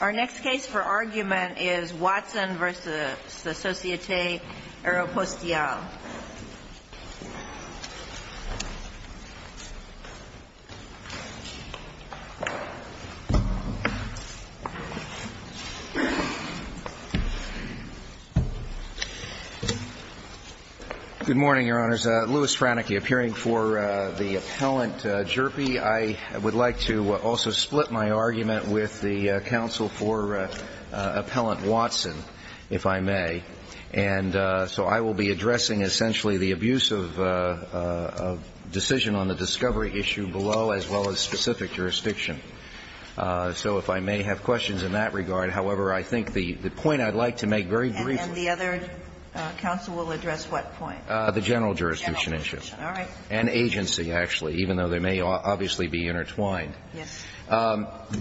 Our next case for argument is Watson v. Societe Aeropostiale. Good morning, Your Honors. Louis Franeke, appearing for the appellant, Jerby. I would like to also split my argument with the counsel for Appellant Watson, if I may. And so I will be addressing essentially the abuse of decision on the discovery issue below, as well as specific jurisdiction. So if I may have questions in that regard. However, I think the point I'd like to make very briefly. And the other counsel will address what point? The general jurisdiction issue. All right. And agency, actually, even though they may obviously be intertwined. Yes.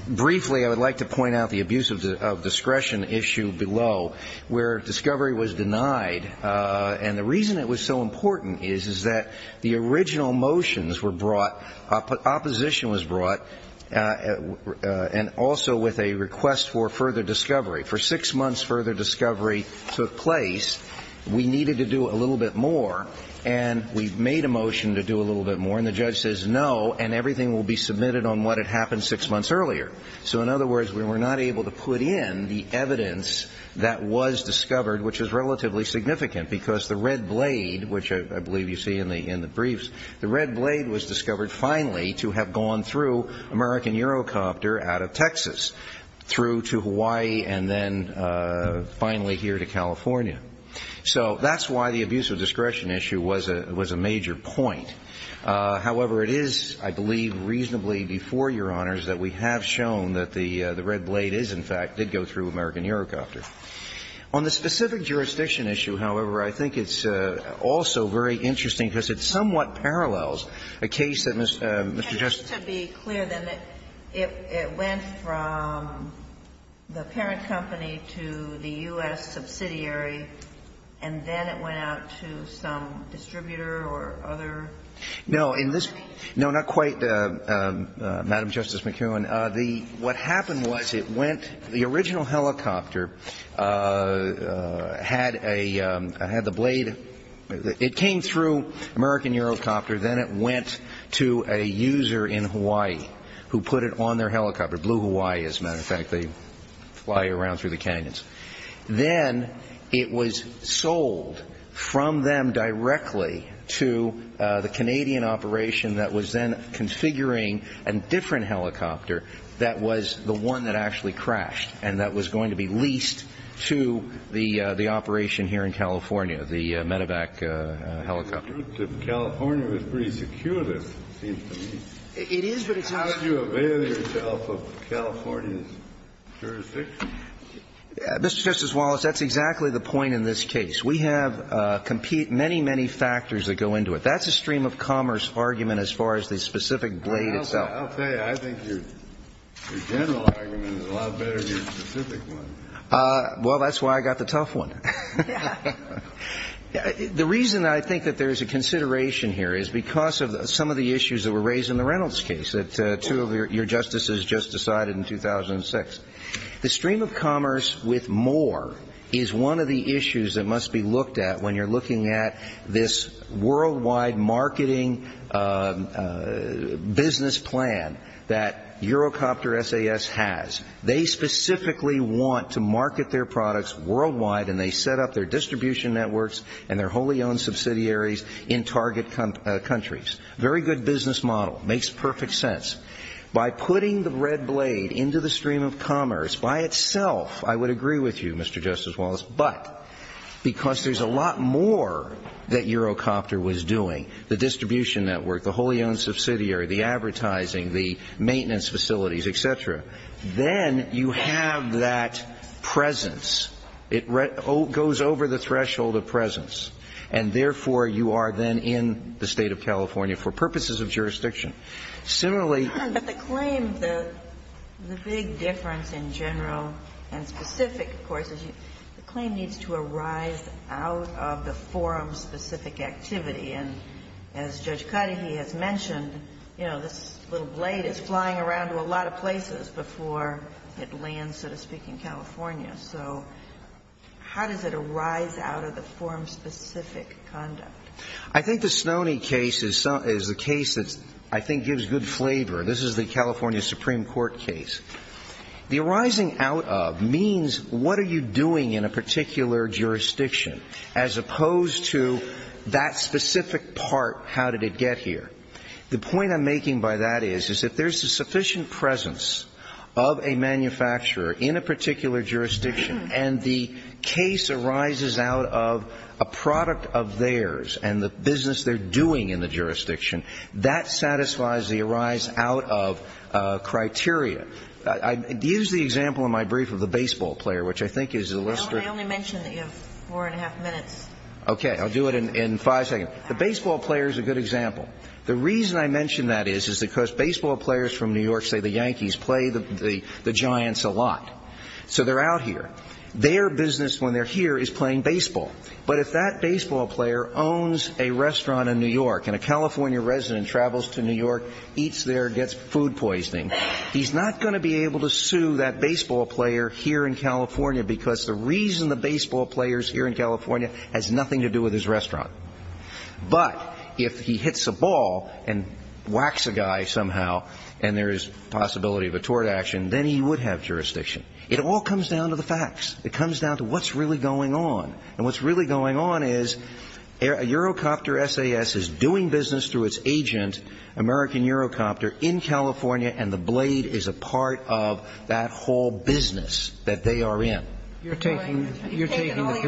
Briefly, I would like to point out the abuse of discretion issue below, where discovery was denied. And the reason it was so important is that the original motions were brought, opposition was brought, and also with a request for further discovery. For six months, further discovery took place. We needed to do a little bit more. And we made a motion to do a little bit more. And the judge says no. And everything will be submitted on what had happened six months earlier. So, in other words, we were not able to put in the evidence that was discovered, which is relatively significant, because the red blade, which I believe you see in the briefs, the red blade was discovered finally to have gone through American Eurocopter out of Texas, through to Hawaii, and then finally here to California. So that's why the abuse of discretion issue was a major point. However, it is, I believe, reasonably before, Your Honors, that we have shown that the red blade is, in fact, did go through American Eurocopter. On the specific jurisdiction issue, however, I think it's also very interesting because it somewhat parallels a case that Mr. Justice. And just to be clear, then, it went from the parent company to the U.S. subsidiary, and then it went out to some distributor or other company? No, not quite, Madam Justice McKeown. What happened was it went, the original helicopter had a, had the blade. It came through American Eurocopter. Then it went to a user in Hawaii who put it on their helicopter. Blue Hawaii, as a matter of fact. They fly around through the canyons. Then it was sold from them directly to the Canadian operation that was then configuring a different helicopter that was the one that actually crashed and that was going to be leased to the operation here in California, the Medevac helicopter. So the fact that it was sold to California was pretty secure, it seems to me. It is, but it's not. How did you avail yourself of California's jurisdiction? Mr. Justice Wallace, that's exactly the point in this case. We have many, many factors that go into it. That's a stream of commerce argument as far as the specific blade itself. I'll tell you, I think your general argument is a lot better than your specific one. Well, that's why I got the tough one. The reason I think that there is a consideration here is because of some of the issues that were raised in the Reynolds case that two of your justices just decided in 2006. The stream of commerce with more is one of the issues that must be looked at when you're looking at this worldwide marketing business plan that Eurocopter SAS has. They specifically want to market their products worldwide and they set up their distribution networks and their wholly owned subsidiaries in target countries. Very good business model. Makes perfect sense. By putting the red blade into the stream of commerce by itself, I would agree with you, Mr. Justice Wallace, but because there's a lot more that Eurocopter was doing, the distribution network, the wholly owned subsidiaries, and then you have that presence. It goes over the threshold of presence. And therefore, you are then in the State of California for purposes of jurisdiction. Similarly. But the claim, the big difference in general and specific, of course, is the claim needs to arise out of the forum-specific activity. And as Judge Cuddy, he has mentioned, you know, this little blade is flying around to a lot of places before it lands, so to speak, in California. So how does it arise out of the forum-specific conduct? I think the Snoney case is the case that I think gives good flavor. This is the California Supreme Court case. The arising out of means what are you doing in a particular jurisdiction as opposed to that specific part, how did it get here? The point I'm making by that is, is if there's a sufficient presence of a manufacturer in a particular jurisdiction and the case arises out of a product of theirs and the business they're doing in the jurisdiction, that satisfies the arise out of criteria. I used the example in my brief of the baseball player, which I think is illustrative. I only mentioned that you have four and a half minutes. Okay. I'll do it in five seconds. The baseball player is a good example. The reason I mention that is, is because baseball players from New York, say the Yankees, play the Giants a lot. So they're out here. Their business when they're here is playing baseball. But if that baseball player owns a restaurant in New York and a California resident travels to New York, eats there, gets food poisoning, he's not going to be able to sue that baseball player here in California because the reason the baseball player is here in California has nothing to do with his restaurant. But if he hits a ball and whacks a guy somehow and there is possibility of a tort action, then he would have jurisdiction. It all comes down to the facts. It comes down to what's really going on. And what's really going on is a Eurocopter SAS is doing business through its agent, American Eurocopter, in California, and the Blade is a part of that whole business that they are in. You're taking the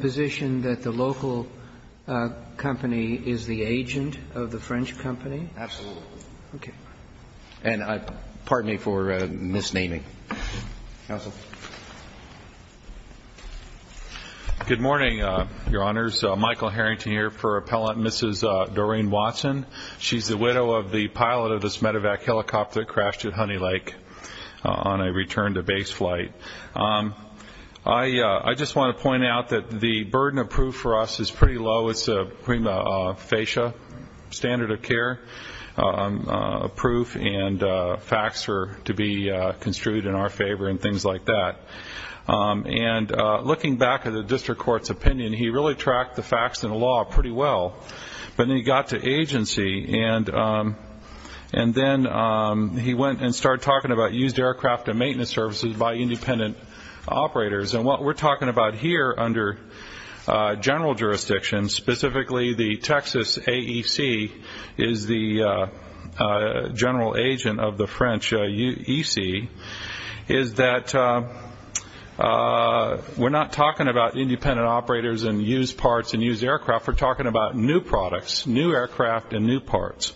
position that the local company is the agent of the French company? Absolutely. And pardon me for misnaming. Counsel. Good morning, Your Honors. Michael Harrington here for Appellant Mrs. Doreen Watson. She's the widow of the pilot of this medevac helicopter that crashed at Honey Lake on a return-to-base flight. I just want to point out that the burden of proof for us is pretty low. It's a prima facie standard of care proof, and facts are to be construed in our favor and things like that. And looking back at the district court's opinion, he really tracked the facts and the law pretty well. But then he got to agency, and then he went and started talking about used aircraft and maintenance services by independent operators. And what we're talking about here under general jurisdiction, specifically the Texas AEC is the general agent of the French EC, is that we're not talking about independent operators and used parts and used aircraft. We're talking about new products, new aircraft and new parts,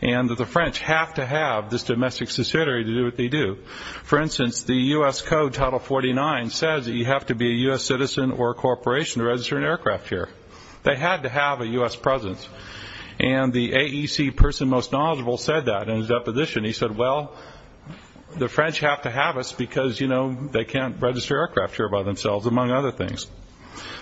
and that the French have to have this domestic subsidiary to do what they do. For instance, the U.S. Code, Title 49, says that you have to be a U.S. citizen or a corporation to register an aircraft here. They had to have a U.S. presence, and the AEC person most knowledgeable said that in his deposition. He said, well, the French have to have us because they can't register aircraft here by themselves, among other things.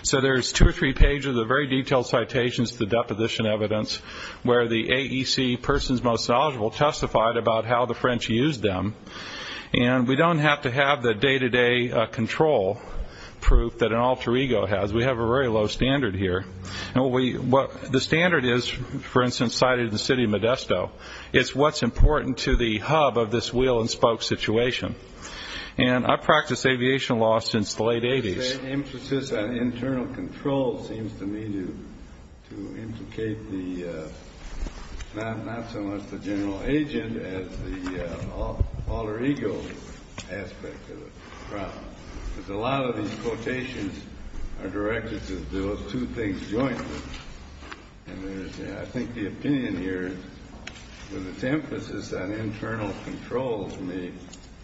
So there's two or three pages of very detailed citations to the deposition evidence where the AEC person's most knowledgeable testified about how the French used them, and we don't have to have the day-to-day control proof that an alter ego has. We have a very low standard here. The standard is, for instance, cited in the city of Modesto. It's what's important to the hub of this wheel-and-spoke situation, and I've practiced aviation law since the late 80s. The emphasis on internal control seems to me to implicate not so much the general agent as the alter ego aspect of the problem because a lot of these quotations are directed to those two things jointly, and I think the opinion here with its emphasis on internal control, to me,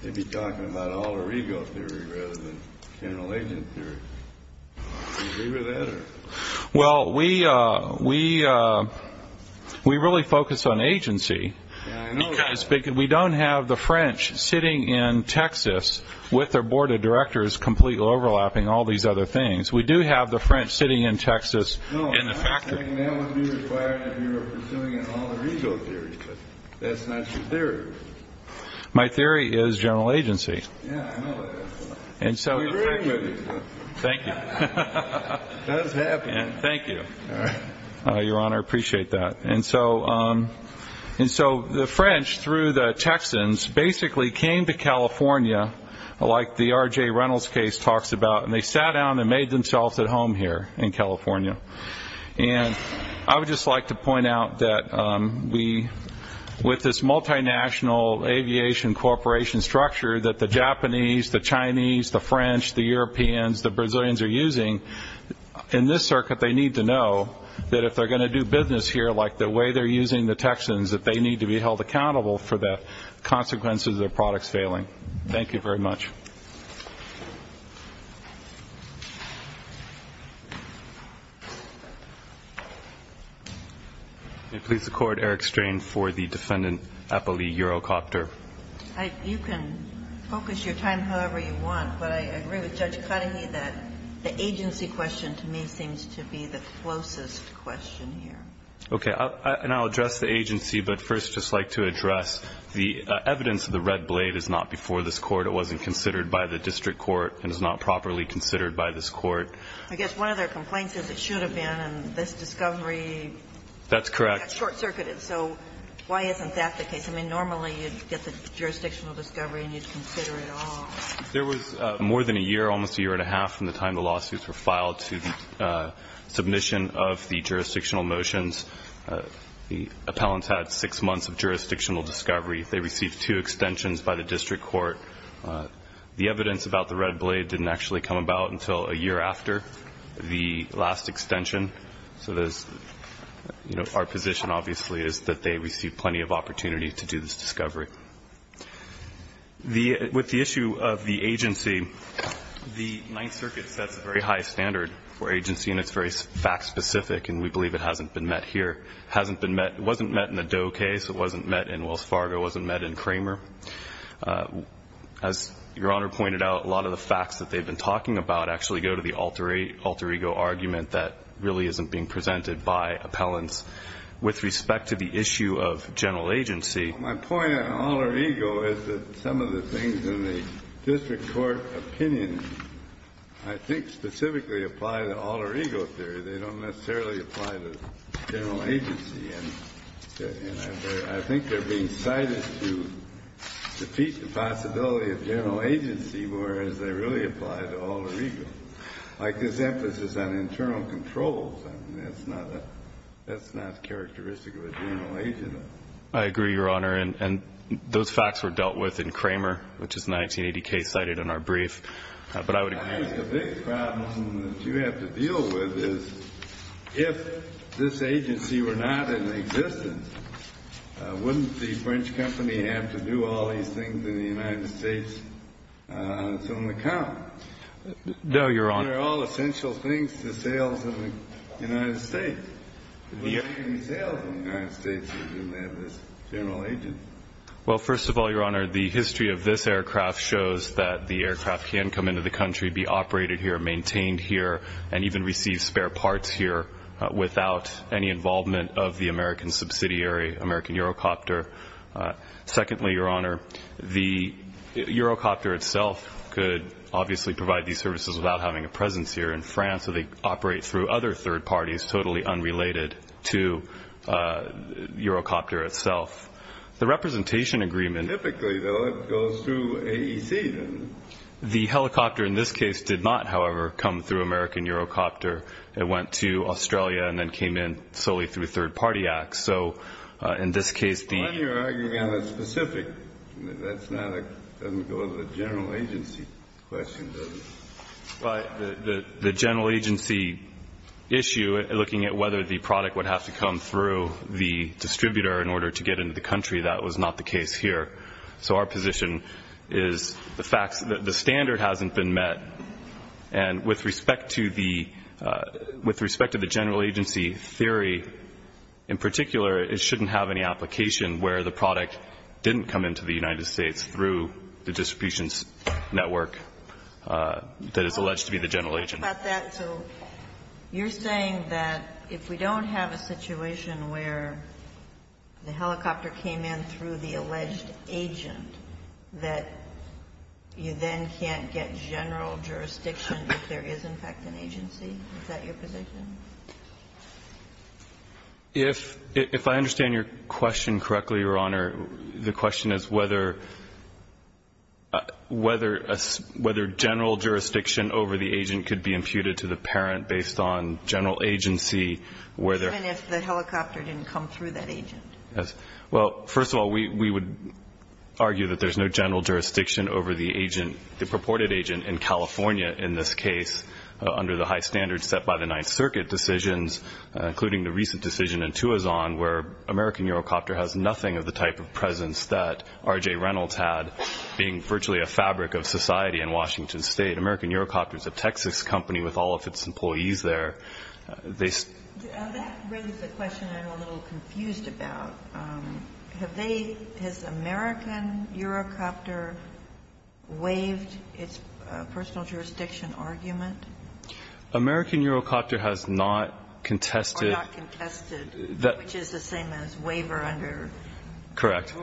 they'd be talking about alter ego theory rather than general agent theory. Do you agree with that? Well, we really focus on agency because we don't have the French sitting in Texas with their board of directors completely overlapping all these other things. We do have the French sitting in Texas in the factory. No, I'm saying that would be required if you were pursuing an alter ego theory, but that's not your theory. My theory is general agency. Yeah, I know that. We agree with you. Thank you. That is happening. Thank you, Your Honor. I appreciate that. And so the French, through the Texans, basically came to California, like the R.J. Reynolds case talks about, and they sat down and made themselves at home here in California. And I would just like to point out that with this multinational aviation corporation structure that the Japanese, the Chinese, the French, the Europeans, the Brazilians are using, in this circuit they need to know that if they're going to do business here, like the way they're using the Texans, that they need to be held accountable for the consequences of their products failing. Thank you. Thank you very much. May it please the Court, Eric Strain for the defendant, Apolli Eurocopter. You can focus your time however you want, but I agree with Judge Cudahy that the agency question, to me, seems to be the closest question here. Okay. And I'll address the agency, but first I'd just like to address the evidence that the red blade is not before this Court, it wasn't considered by the district court, and is not properly considered by this Court. I guess one of their complaints is it should have been, and this discovery got short-circuited. That's correct. So why isn't that the case? I mean, normally you'd get the jurisdictional discovery and you'd consider it all. There was more than a year, almost a year and a half from the time the lawsuits were filed to the submission of the jurisdictional motions. The appellants had six months of jurisdictional discovery. They received two extensions by the district court. The evidence about the red blade didn't actually come about until a year after the last extension. So there's, you know, our position obviously is that they received plenty of opportunity to do this discovery. With the issue of the agency, the Ninth Circuit sets a very high standard for agency, and it's very fact-specific, and we believe it hasn't been met here. It hasn't been met, it wasn't met in the Doe case, it wasn't met in Wells Fargo, it wasn't met in Kramer. As Your Honor pointed out, a lot of the facts that they've been talking about actually go to the alter ego argument that really isn't being presented by appellants. With respect to the issue of general agency, my point on alter ego is that some of the things in the district court opinion, I think, specifically apply to alter ego theory. They don't necessarily apply to general agency. And I think they're being cited to defeat the possibility of general agency, whereas they really apply to alter ego. Like this emphasis on internal controls, that's not characteristic of a general agent. I agree, Your Honor, and those facts were dealt with in Kramer, which is the 1980 case cited in our brief. But I would agree. I think the big problem that you have to deal with is if this agency were not in existence, wouldn't the French company have to do all these things in the United States? It's on the count. No, Your Honor. They're all essential things to sales in the United States. The only thing to do in sales in the United States is to have this general agency. Well, first of all, Your Honor, the history of this aircraft shows that the aircraft can come into the country, be operated here, maintained here, and even receive spare parts here without any involvement of the American subsidiary, American Eurocopter. Secondly, Your Honor, the Eurocopter itself could obviously provide these services without having a presence here in France, so they operate through other third parties totally unrelated to Eurocopter itself. The representation agreement... Typically, though, it goes through AEC, then. The helicopter in this case did not, however, come through American Eurocopter. It went to Australia and then came in solely through third-party acts. So in this case, the... Why are you arguing on the specific? That doesn't go with the general agency question, does it? Well, the general agency issue, looking at whether the product would have to come through the distributor in order to get into the country, that was not the case here. So our position is the standard hasn't been met, and with respect to the general agency theory in particular, it shouldn't have any application where the product didn't come into the United States through the distribution network that is alleged to be the general agent. So you're saying that if we don't have a situation where the helicopter came in through the alleged agent, that you then can't get general jurisdiction if there is, in fact, an agency? Is that your position? If I understand your question correctly, Your Honor, the question is whether general jurisdiction over the agent could be imputed to the parent based on general agency where there... Even if the helicopter didn't come through that agent. Yes. Well, first of all, we would argue that there's no general jurisdiction over the agent, the purported agent in California in this case under the high standards set by the Ninth Circuit decisions, including the recent decision in Tuazon where American Eurocopter has nothing of the type of presence that R.J. Reynolds had, being virtually a fabric of society in Washington State. American Eurocopter is a Texas company with all of its employees there. They... That raises a question I'm a little confused about. Have they, has American Eurocopter waived its personal jurisdiction argument? American Eurocopter has not contested... Or not contested, which is the same as waiver under the rules. Correct.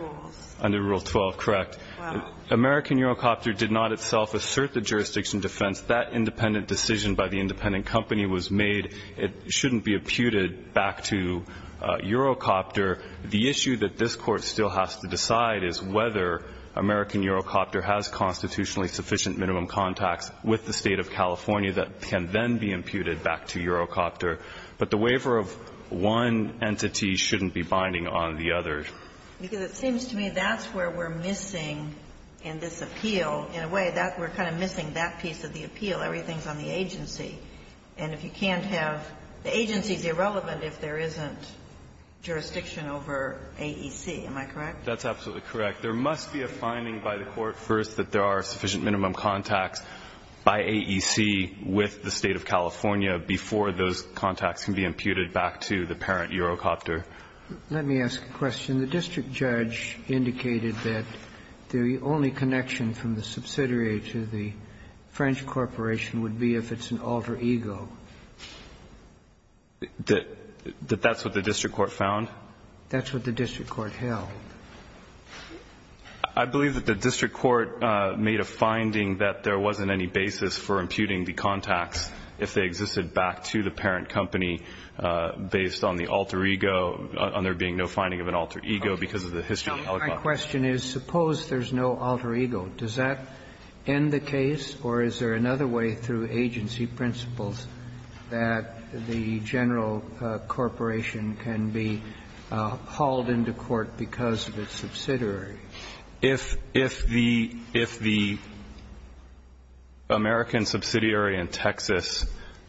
Under Rule 12, correct. Wow. American Eurocopter did not itself assert the jurisdiction defense. That independent decision by the independent company was made. It shouldn't be imputed back to Eurocopter. The issue that this Court still has to decide is whether American Eurocopter has constitutionally sufficient minimum contacts with the State of California that can then be imputed back to Eurocopter. But the waiver of one entity shouldn't be binding on the other. Because it seems to me that's where we're missing in this appeal. In a way, we're kind of missing that piece of the appeal. Everything's on the agency. And if you can't have, the agency's irrelevant if there isn't jurisdiction over AEC. Am I correct? That's absolutely correct. There must be a finding by the Court first that there are sufficient minimum contacts by AEC with the State of California before those contacts can be imputed back to the parent Eurocopter. Let me ask a question. The district judge indicated that the only connection from the subsidiary to the French corporation would be if it's an alter ego. That that's what the district court found? That's what the district court held. I believe that the district court made a finding that there wasn't any basis for imputing the contacts if they existed back to the parent company based on the alter ego, on there being no finding of an alter ego because of the history of the helicopter. Now, my question is, suppose there's no alter ego. Does that end the case, or is there another way through agency principles that the general corporation can be hauled into court because of its subsidiary? If the American subsidiary in Texas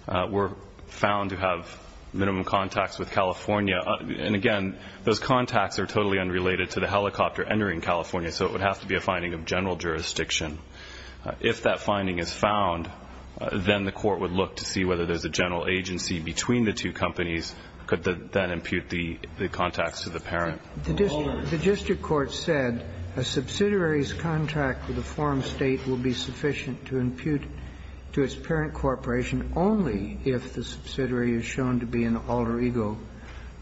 were found to have minimum contacts with California, and again, those contacts are totally unrelated to the helicopter entering California, so it would have to be a finding of general jurisdiction. If that finding is found, then the court would look to see whether there's a general agency between the two companies that could then impute the contacts to the parent. The district court said a subsidiary's contact with a foreign state would be sufficient to impute to its parent corporation only if the subsidiary is shown to be an alter ego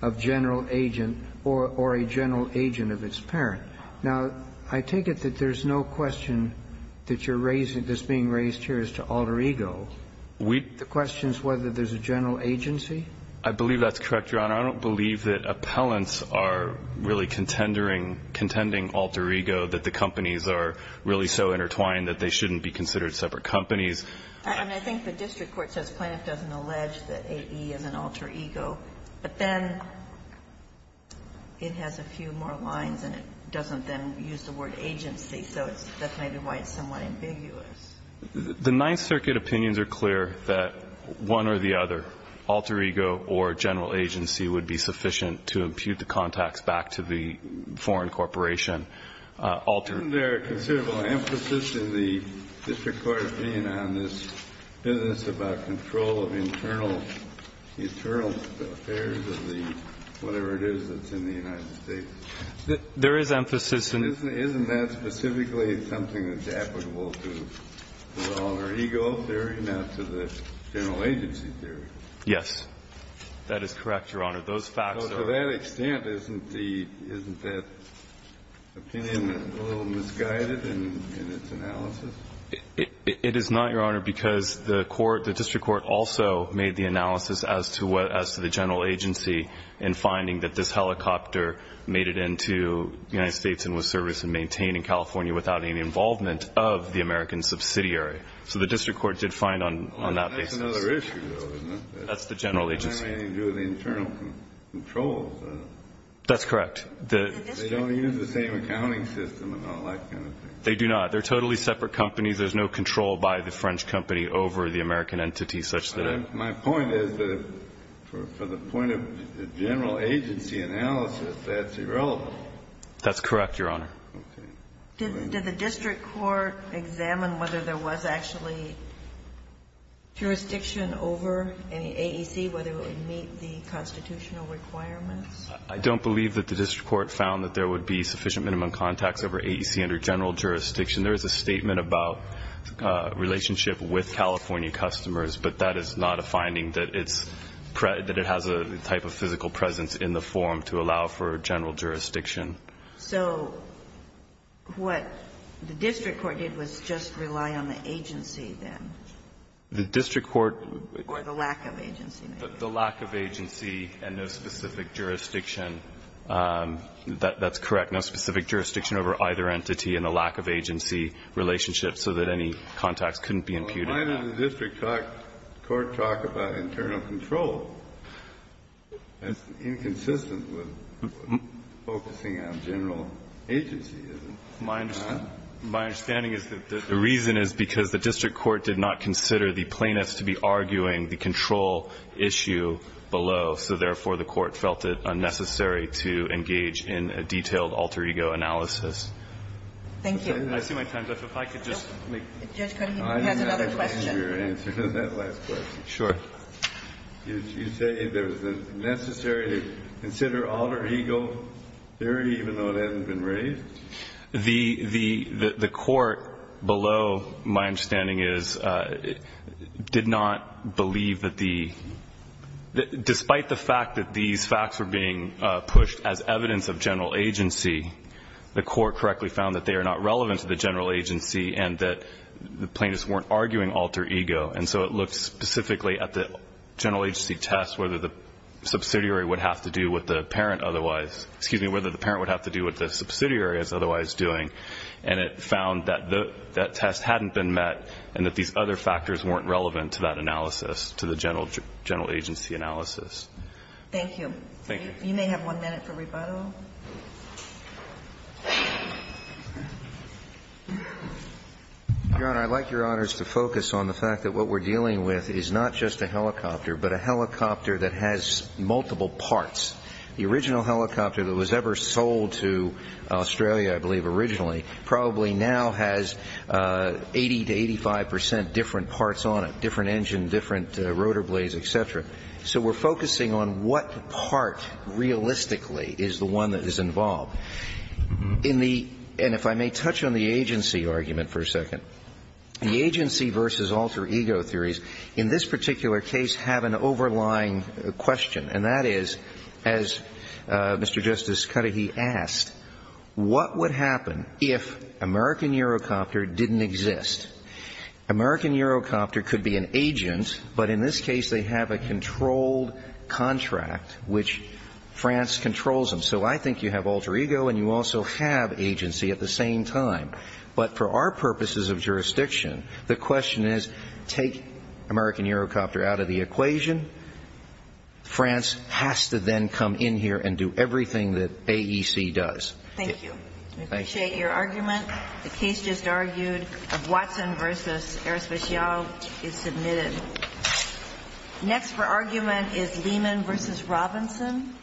of general agent or a general agent of its parent. Now, I take it that there's no question that you're raising that's being raised here as to alter ego. The question is whether there's a general agency. I believe that's correct, Your Honor. I don't believe that appellants are really contendering, contending alter ego, that the companies are really so intertwined that they shouldn't be considered separate companies. And I think the district court says Plaintiff doesn't allege that AE is an alter ego, but then it has a few more lines and it doesn't then use the word agency, so that's maybe why it's somewhat ambiguous. The Ninth Circuit opinions are clear that one or the other, alter ego or general agency, would be sufficient to impute the contacts back to the foreign corporation. Isn't there a considerable emphasis in the district court opinion on this business about control of internal affairs of the whatever it is that's in the United States? There is emphasis. Isn't that specifically something that's applicable to the owner ego theory, not to the general agency theory? Yes. That is correct, Your Honor. Those facts are. To that extent, isn't the, isn't that opinion a little misguided in its analysis? It is not, Your Honor, because the court, the district court also made the analysis as to what, as to the general agency in finding that this helicopter made it into the United States and was serviced and maintained in California without any involvement of the American subsidiary. So the district court did find on that basis. That's another issue, though, isn't it? That's the general agency. It has nothing to do with the internal controls. That's correct. They don't use the same accounting system and all that kind of thing. They do not. They're totally separate companies. There's no control by the French company over the American entity such that it. My point is that for the point of general agency analysis, that's irrelevant. That's correct, Your Honor. Okay. Did the district court examine whether there was actually jurisdiction over any AEC, whether it would meet the constitutional requirements? I don't believe that the district court found that there would be sufficient minimum contacts over AEC under general jurisdiction. There is a statement about relationship with California customers, but that is not a finding that it has a type of physical presence in the form to allow for general jurisdiction. So what the district court did was just rely on the agency, then? The district court. Or the lack of agency. The lack of agency and no specific jurisdiction. That's correct. No specific jurisdiction over either entity and a lack of agency relationship so that any contacts couldn't be imputed. Why did the district court talk about internal control? That's inconsistent with focusing on general agency, isn't it? My understanding is that the reason is because the district court did not consider the plaintiffs to be arguing the control issue below, so, therefore, the court felt it unnecessary to engage in a detailed alter ego analysis. Thank you. I see my time's up. If I could just make. Judge, he has another question. I'm not going to answer that last question. Sure. You say there's a necessary to consider alter ego theory even though it hasn't been raised? The court below, my understanding is, did not believe that the, despite the fact that these facts were being pushed as evidence of general agency, the court correctly found that they are not relevant to the general agency and that the plaintiffs weren't arguing alter ego. And so it looked specifically at the general agency test whether the subsidiary would have to do with the parent otherwise, excuse me, whether the parent would have to do with the subsidiary as otherwise doing. And it found that that test hadn't been met and that these other factors weren't relevant to that analysis, to the general agency analysis. Thank you. Thank you. You may have one minute for rebuttal. Your Honor, I'd like Your Honors to focus on the fact that what we're dealing with is not just a helicopter, but a helicopter that has multiple parts. The original helicopter that was ever sold to Australia, I believe originally, probably now has 80 to 85 percent different parts on it, different engine, different rotor blades, et cetera. So we're focusing on what part realistically is the one that is involved. And if I may touch on the agency argument for a second. The agency versus alter ego theories in this particular case have an overlying question. And that is, as Mr. Justice Cudahy asked, what would happen if American Eurocopter didn't exist? American Eurocopter could be an agent, but in this case they have a controlled contract which France controls them. So I think you have alter ego and you also have agency at the same time. But for our purposes of jurisdiction, the question is take American Eurocopter out of the equation. France has to then come in here and do everything that AEC does. Thank you. We appreciate your argument. The case just argued of Watson versus Aerospatiale is submitted. Next for argument is Lehman versus Robinson.